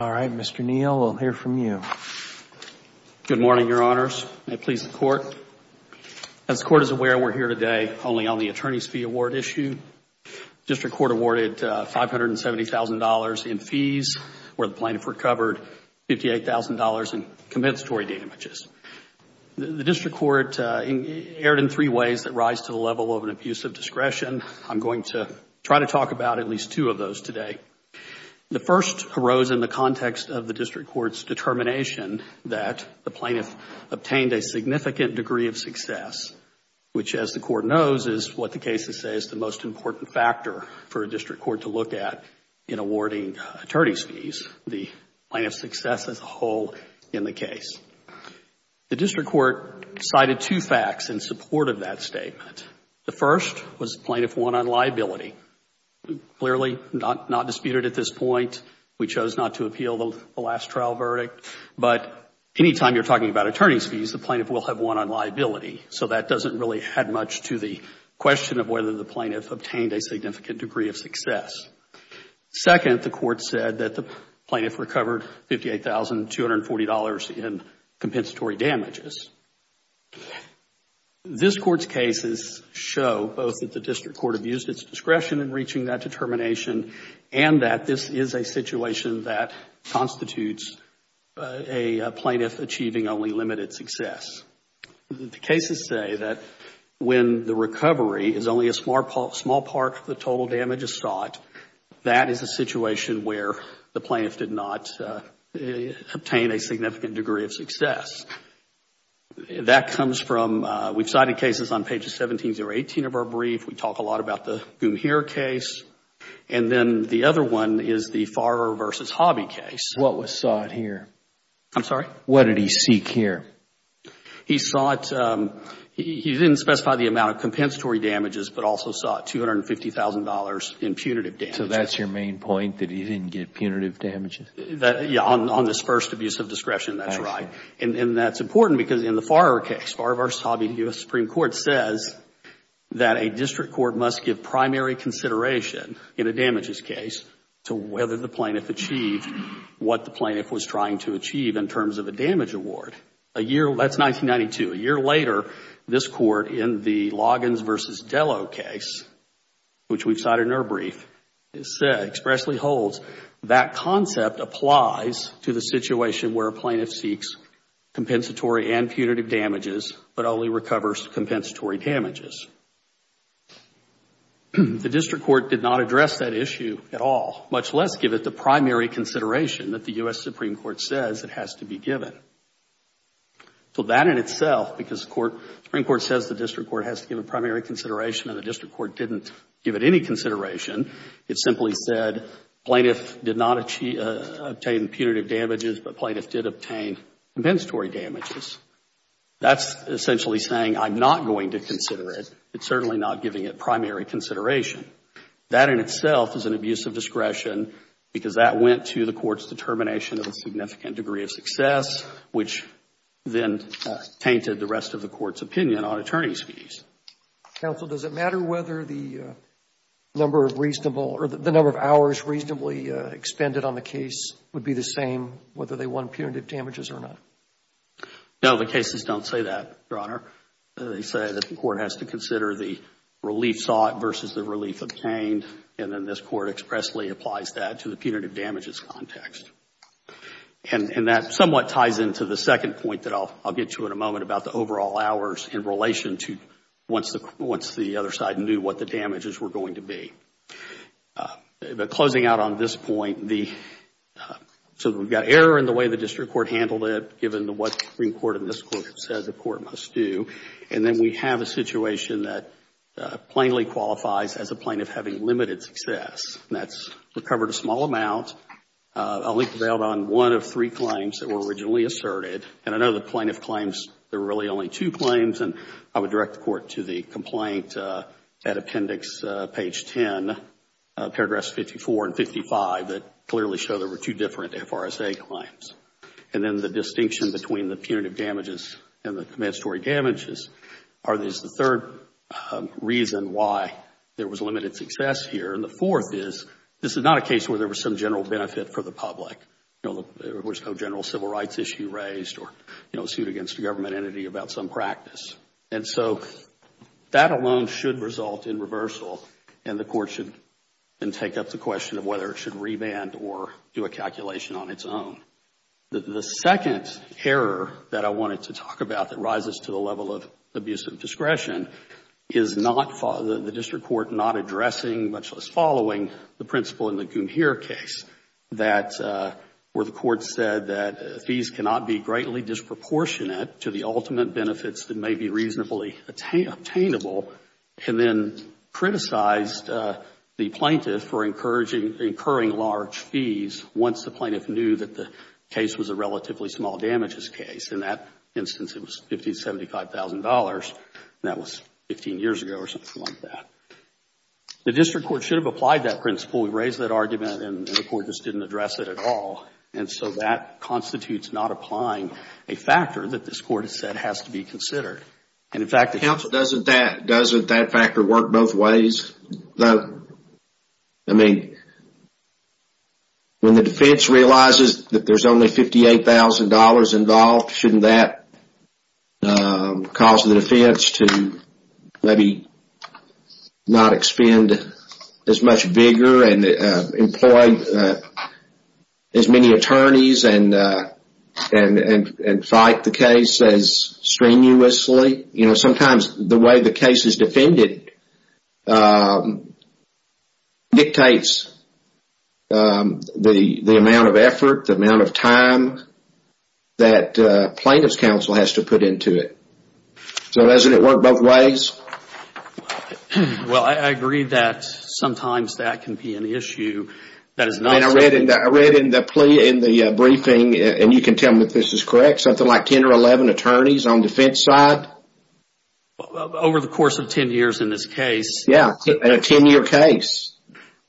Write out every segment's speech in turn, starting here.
All right, Mr. Neal, we'll hear from you. Good morning, Your Honors. May it please the Court. As the Court is aware, we're here today only on the Attorney's Fee Award issue. The District Court awarded $570,000 in fees, where the plaintiff recovered $58,000 in compensatory damages. The District Court erred in three ways that rise to the level of an abuse of discretion. I'm going to try to talk about at least two of those today. The first arose in the context of the District Court's determination that the plaintiff obtained a significant degree of success, which, as the Court knows, is what the cases say is the most important factor for a District Court to look at in awarding attorney's fees, the plaintiff's success as a whole in the case. The District Court cited two facts in support of that statement. The first was the plaintiff won on liability, clearly not disputed at this point. We chose not to appeal the last trial verdict. But any time you're talking about attorney's fees, the plaintiff will have won on liability. So that doesn't really add much to the question of whether the plaintiff obtained a significant degree of success. Second, the Court said that the plaintiff recovered $58,240 in compensatory damages. This Court's cases show both that the District Court abused its discretion in reaching that determination and that this is a situation that constitutes a plaintiff achieving only limited success. The cases say that when the recovery is only a small part of the total damages sought, that is a situation where the plaintiff did not obtain a significant degree of success. That comes from, we've cited cases on pages 17 through 18 of our brief, we talk a lot about the Goomheer case, and then the other one is the Farrer v. Hobby case. What was sought here? I'm sorry? What did he seek here? He sought, he didn't specify the amount of compensatory damages, but also sought $250,000 in punitive damages. So that's your main point, that he didn't get punitive damages? Yeah, on this first abuse of discretion, that's right. And that's important because in the Farrer case, Farrer v. Hobby, the U.S. Supreme Court says that a District Court must give primary consideration in a damages case to whether the plaintiff achieved what the plaintiff was trying to achieve in terms of a damage award. That's 1992. A year later, this Court in the Loggins v. Dello case, which we've cited in our brief, expressly holds that concept applies to the situation where a plaintiff seeks compensatory and punitive damages, but only recovers compensatory damages. The District Court did not address that issue at all, much less give it the primary consideration that the U.S. Supreme Court says it has to be given. So that in itself, because the Supreme Court says the District Court has to give a primary consideration and the District Court didn't give it any consideration, it simply said plaintiff did not obtain punitive damages, but plaintiff did obtain compensatory damages. That's essentially saying I'm not going to consider it. It's certainly not giving it primary consideration. That in itself is an abuse of discretion because that went to the Court's determination of a significant degree of success, which then tainted the rest of the Court's opinion on attorney's fees. Counsel, does it matter whether the number of hours reasonably expended on the case would be the same, whether they won punitive damages or not? No, the cases don't say that, Your Honor. They say that the Court has to consider the relief sought versus the relief obtained, and then this Court expressly applies that to the punitive damages context. And that somewhat ties into the second point that I'll get to in a moment about the overall hours in relation to once the other side knew what the damages were going to be. Closing out on this point, so we've got error in the way the District Court handled it, given what the Supreme Court in this case said the Court must do, and then we have a limited success. And that's recovered a small amount, only prevailed on one of three claims that were originally asserted. And I know the plaintiff claims there were really only two claims, and I would direct the Court to the complaint at appendix page 10, paragraphs 54 and 55 that clearly show there were two different FRSA claims. And then the distinction between the punitive damages and the compensatory damages is the third reason why there was limited success here, and the fourth is this is not a case where there was some general benefit for the public. You know, there was no general civil rights issue raised or, you know, sued against a government entity about some practice. And so that alone should result in reversal, and the Court should then take up the question of whether it should remand or do a calculation on its own. The second error that I wanted to talk about that rises to the level of abusive discretion is the District Court not addressing, much less following, the principle in the Goomheer case where the Court said that fees cannot be greatly disproportionate to the ultimate benefits that may be reasonably obtainable, and then criticized the plaintiff for incurring large fees once the plaintiff knew that the case was a relatively small damages case. In that instance, it was $1575,000, and that was 15 years ago or something like that. The District Court should have applied that principle. We raised that argument, and the Court just didn't address it at all. And so that constitutes not applying a factor that this Court has said has to be considered. And, in fact, the Counsel doesn't that factor work both ways? I mean, when the defense realizes that there's only $58,000 involved, shouldn't that cause the defense to maybe not expend as much vigor and employ as many attorneys and fight the case as strenuously? You know, sometimes the way the case is defended dictates the amount of effort, the amount of time that a plaintiff's counsel has to put into it. So doesn't it work both ways? Well, I agree that sometimes that can be an issue that is not... I read in the plea, in the briefing, and you can tell me if this is correct, something like 10 or 11 attorneys on the defense side? Over the course of 10 years in this case. Yeah, in a 10-year case.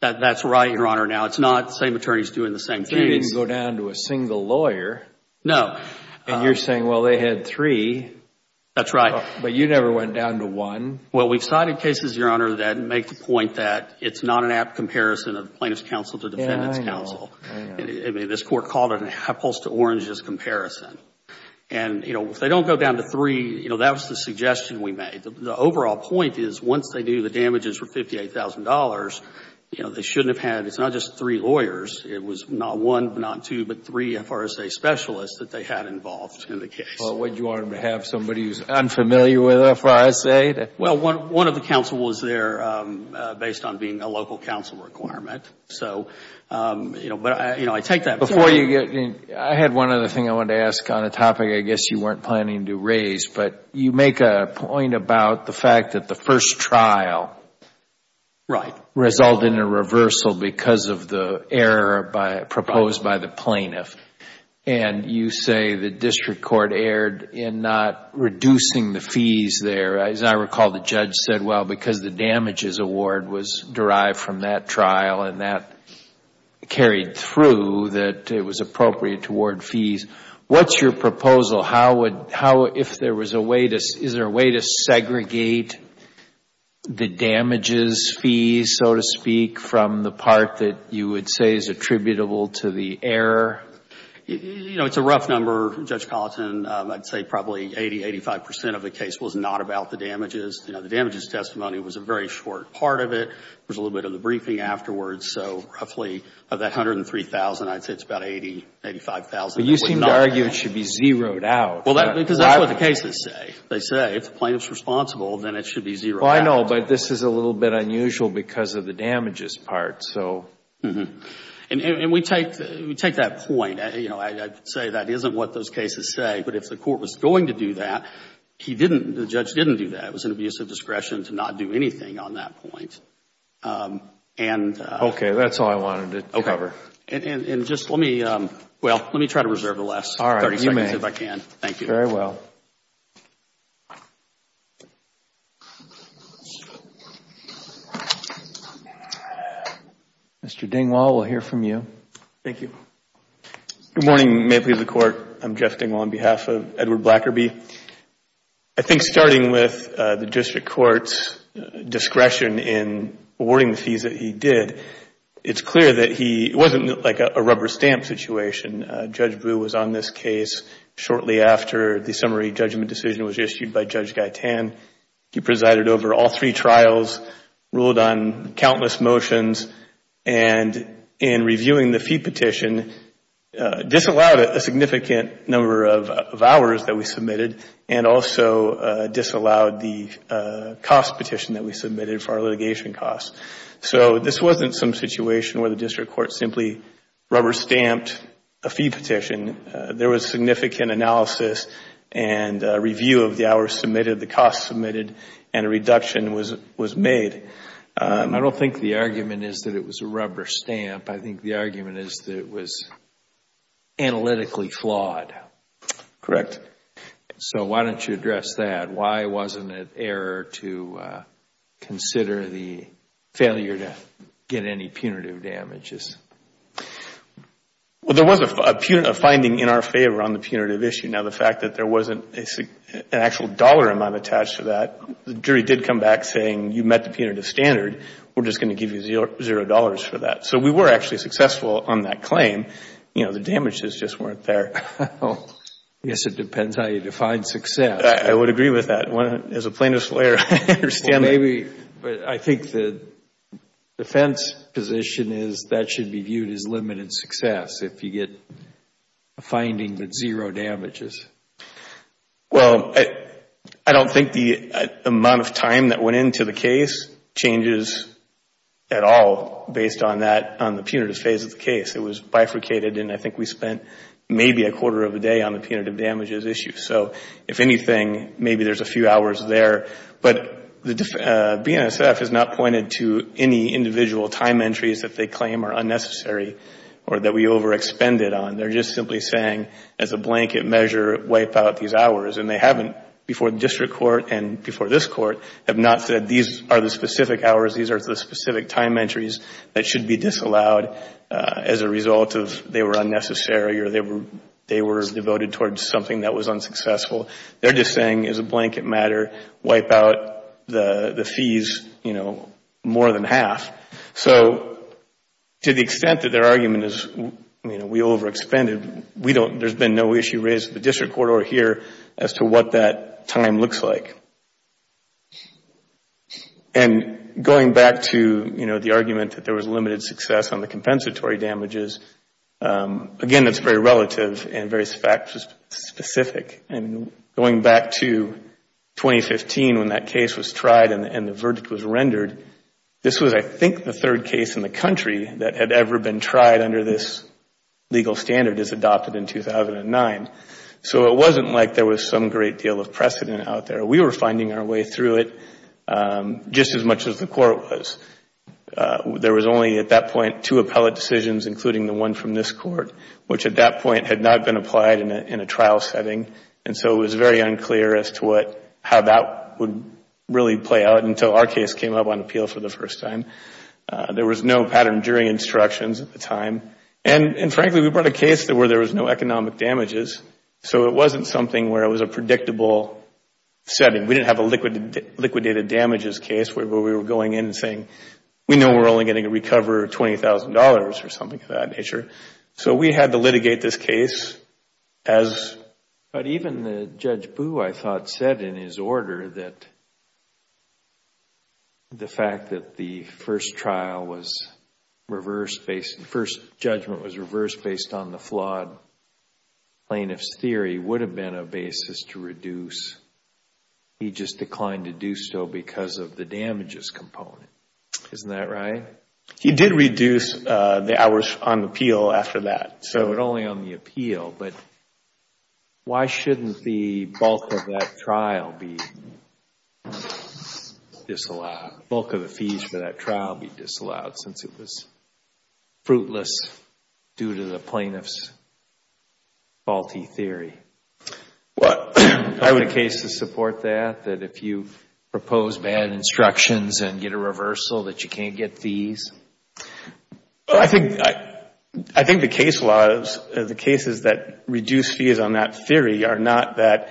That's right, Your Honor. Now, it's not the same attorneys doing the same things. You didn't go down to a single lawyer. No. And you're saying, well, they had three. That's right. But you never went down to one. Well, we've cited cases, Your Honor, that make the point that it's not an apt comparison of plaintiff's counsel to defendant's counsel. I mean, this Court called it an apples to oranges comparison. And if they don't go down to three, that was the suggestion we made. The overall point is once they knew the damages were $58,000, they shouldn't have had, it's not just three lawyers, it was not one, not two, but three FRSA specialists that they had involved in the case. Well, would you want them to have somebody who's unfamiliar with FRSA? Well, one of the counsels was there based on being a local counsel requirement. So, you know, I take that. Before you get, I had one other thing I wanted to ask on a topic I guess you weren't planning to raise. But you make a point about the fact that the first trial resulted in a reversal because of the error proposed by the plaintiff. And you say the district court erred in not reducing the fees there. As I recall, the judge said, well, because the damages award was derived from that trial and that carried through, that it was appropriate toward fees. What's your proposal? How would, how, if there was a way to, is there a way to segregate the damages fees, so to speak, from the part that you would say is attributable to the error? You know, it's a rough number, Judge Colleton. I'd say probably 80, 85 percent of the case was not about the damages. You know, the damages testimony was a very short part of it. There was a little bit of the briefing afterwards, so roughly of that 103,000, I'd say it's about 80, 85,000. But you seem to argue it should be zeroed out. Well, because that's what the cases say. They say if the plaintiff's responsible, then it should be zeroed out. Well, I know, but this is a little bit unusual because of the damages part, so. And we take, we take that point, you know, I'd say that isn't what those cases say. But if the court was going to do that, he didn't, the judge didn't do that. It was an abuse of discretion to not do anything on that point. And Okay. That's all I wanted to cover. Okay. And just let me, well, let me try to reserve the last 30 seconds if I can. Thank you. All right. You may. Very well. Mr. Dingwall, we'll hear from you. Thank you. Good morning. May it please the Court. I'm Jeff Dingwall on behalf of Edward Blackerby. I think starting with the district court's discretion in awarding the fees that he did, it's clear that he, it wasn't like a rubber stamp situation. Judge Brewer was on this case shortly after the summary judgment decision was issued by Judge Guy Tan. He presided over all three trials, ruled on countless motions, and in reviewing the fee submitted, and also disallowed the cost petition that we submitted for our litigation costs. So this wasn't some situation where the district court simply rubber stamped a fee petition. There was significant analysis and review of the hours submitted, the costs submitted, and a reduction was made. I don't think the argument is that it was a rubber stamp. I think the argument is that it was analytically flawed. Correct. So why don't you address that? Why wasn't it error to consider the failure to get any punitive damages? Well, there was a finding in our favor on the punitive issue. Now, the fact that there wasn't an actual dollar amount attached to that, the jury did come back saying you met the punitive standard, we're just going to give you zero dollars for that. So we were actually successful on that claim. You know, the damages just weren't there. Well, I guess it depends how you define success. I would agree with that. As a plaintiff's lawyer, I understand that. Well, maybe, but I think the defense position is that should be viewed as limited success if you get a finding with zero damages. Well, I don't think the amount of time that went into the case changes at all based on that, on the punitive phase of the case. It was bifurcated and I think we spent maybe a quarter of a day on the punitive damages issue. So if anything, maybe there's a few hours there. But the BNSF has not pointed to any individual time entries that they claim are unnecessary or that we over-expended on. They're just simply saying as a blanket measure, wipe out these hours. And they haven't, before the district court and before this court, have not said these are the specific hours, these are the specific time entries that should be disallowed as a result of they were unnecessary or they were devoted towards something that was unsuccessful. They're just saying as a blanket matter, wipe out the fees more than half. So to the extent that their argument is we over-expended, there's been no issue raised at the district court or here as to what that time looks like. And going back to, you know, the argument that there was limited success on the compensatory damages, again, that's very relative and very fact specific. And going back to 2015 when that case was tried and the verdict was rendered, this was I think the third case in the country that had ever been tried under this legal standard as adopted in 2009. So it wasn't like there was some great deal of precedent out there. We were finding our way through it just as much as the court was. There was only at that point two appellate decisions, including the one from this court, which at that point had not been applied in a trial setting. And so it was very unclear as to how that would really play out until our case came up on appeal for the first time. There was no pattern jury instructions at the time. And frankly, we brought a case where there was no economic damages. So it wasn't something where it was a predictable setting. We didn't have a liquidated damages case where we were going in and saying, we know we're only going to recover $20,000 or something of that nature. So we had to litigate this case as But even Judge Boo, I thought, said in his order that the fact that the first trial was reversed based on the flawed plaintiff's theory would have been a basis to reduce. He just declined to do so because of the damages component. Isn't that right? He did reduce the hours on appeal after that. So it was only on the appeal. But why shouldn't the bulk of that trial be disallowed? Why shouldn't the bulk of the fees for that trial be disallowed since it was fruitless due to the plaintiff's faulty theory? Why would a case support that, that if you propose bad instructions and get a reversal that you can't get fees? I think the case laws, the cases that reduce fees on that theory are not that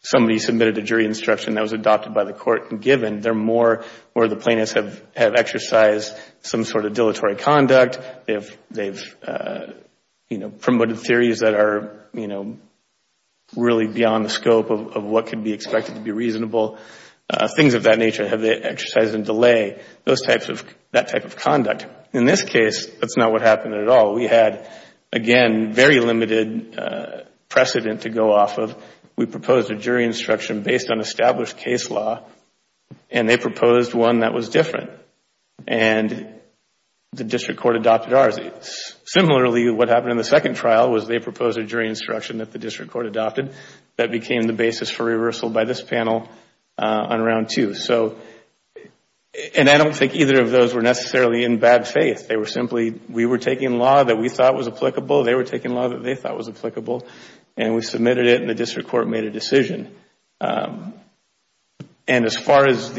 somebody submitted a jury instruction that was adopted by the court and given. They are more where the plaintiffs have exercised some sort of dilatory conduct, they have promoted theories that are really beyond the scope of what could be expected to be reasonable. Things of that nature have been exercised in delay, that type of conduct. In this case, that's not what happened at all. We had, again, very limited precedent to go off of. We proposed a jury instruction based on established case law and they proposed one that was different. The district court adopted ours. Similarly, what happened in the second trial was they proposed a jury instruction that the district court adopted that became the basis for reversal by this panel on round two. I don't think either of those were necessarily in bad faith. We were taking law that we thought was applicable, they were taking law that they thought was applicable. The district court made a decision and as far as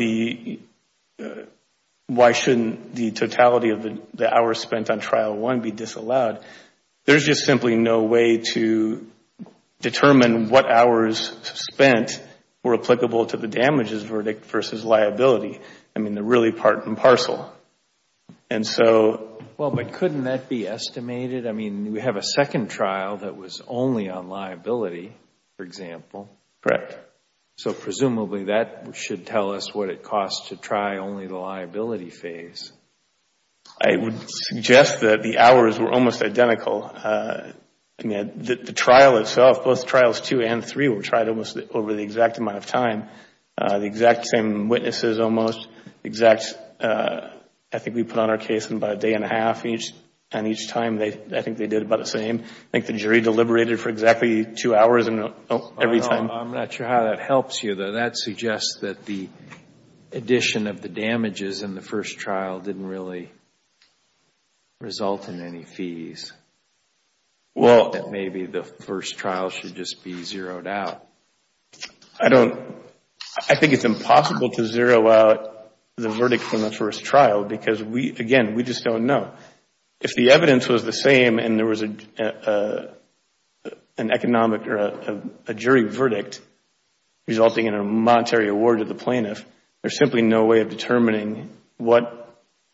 why shouldn't the totality of the hours spent on trial one be disallowed, there is just simply no way to determine what hours spent were applicable to the damages verdict versus liability. They are really part and parcel. But couldn't that be estimated? We have a second trial that was only on liability, for example, so presumably that should tell us what it costs to try only the liability phase. I would suggest that the hours were almost identical. The trial itself, both trials two and three were tried over the exact amount of time. The exact same witnesses almost, I think we put on our case about a day and a half each and each time I think they did about the same. I think the jury deliberated for exactly two hours every time. I am not sure how that helps you. That suggests that the addition of the damages in the first trial didn't really result in any fees. Well, that maybe the first trial should just be zeroed out. I think it is impossible to zero out the verdict from the first trial because, again, we just don't know. If the evidence was the same and there was a jury verdict resulting in a monetary award to the plaintiff, there is simply no way of determining what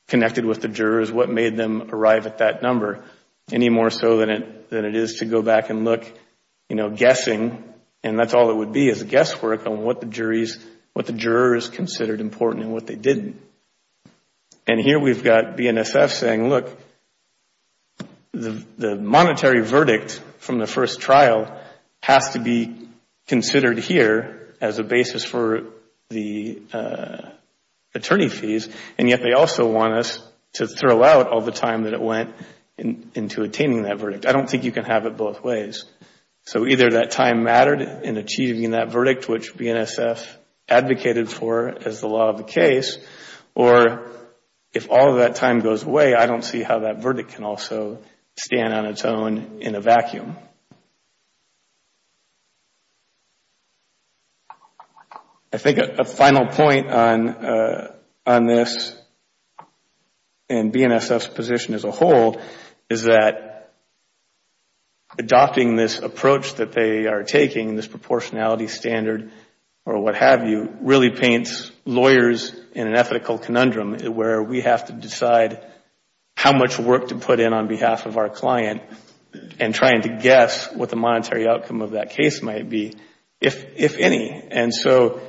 connected with the jurors, what made them arrive at that number, any more so than it is to go back and look, guessing and that is all it would be is a guesswork on what the jurors considered important and what they didn't. And here we have got BNSF saying, look, the monetary verdict from the first trial has to be considered here as a basis for the attorney fees and yet they also want us to throw out all the time that it went into attaining that verdict. I don't think you can have it both ways. So either that time mattered in achieving that verdict which BNSF advocated for as the law of the case or if all of that time goes away, I don't see how that verdict can also stand on its own in a vacuum. I think a final point on this and BNSF's position as a whole is that adopting this approach that they are taking, this proportionality standard or what have you, really paints lawyers in an ethical conundrum where we have to decide how much work to put in on behalf of our client and trying to guess what the monetary outcome of that case might be, if any. And so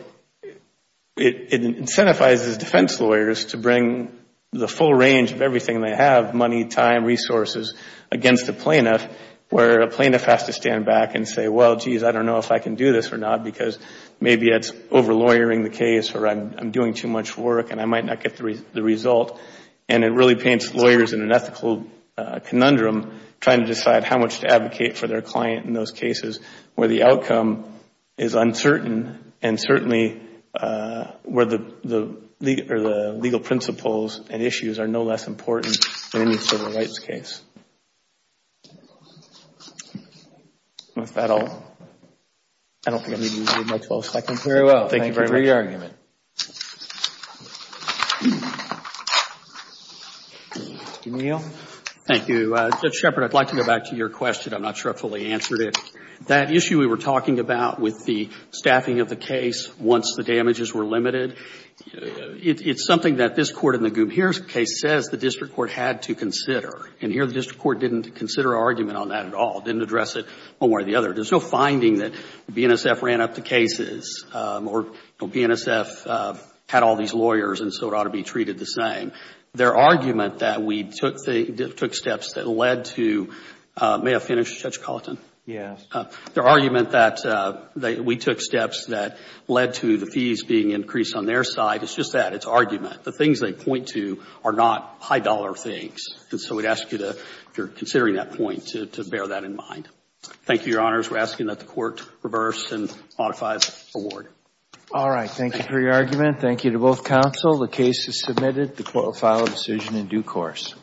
it incentivizes defense lawyers to bring the full range of everything they have, money, time, resources, against a plaintiff where a plaintiff has to stand back and say, well, geez, I don't know if I can do this or not because maybe it is over lawyering the case or I am doing too much work and I might not get the result. And it really paints lawyers in an ethical conundrum trying to decide how much to advocate for their client in those cases where the outcome is uncertain and certainly where the legal principles and issues are no less important in any civil rights case. With that, I don't think I need to use my 12 seconds. Thank you very much. Thank you for your argument. Thank you. Judge Shepard, I would like to go back to your question. I am not sure I fully answered it. That issue we were talking about with the staffing of the case once the damages were limited, it is something that this Court in the Goob-Hairs case says the district court had to consider. And here, the district court didn't consider our argument on that at all, didn't address it one way or the other. There is no finding that BNSF ran up the cases or BNSF had all these lawyers and so it ought to be treated the same. Their argument that we took steps that led to the fees being increased on their side is just that. It is argument. The things they point to are not high dollar things. And so we would ask you, if you are considering that point, to bear that in mind. Thank you, Your Honors. We are asking that the Court reverse and modify the award. All right. Thank you for your argument. Thank you to both counsel. The case is submitted. The Court will file a decision in due course.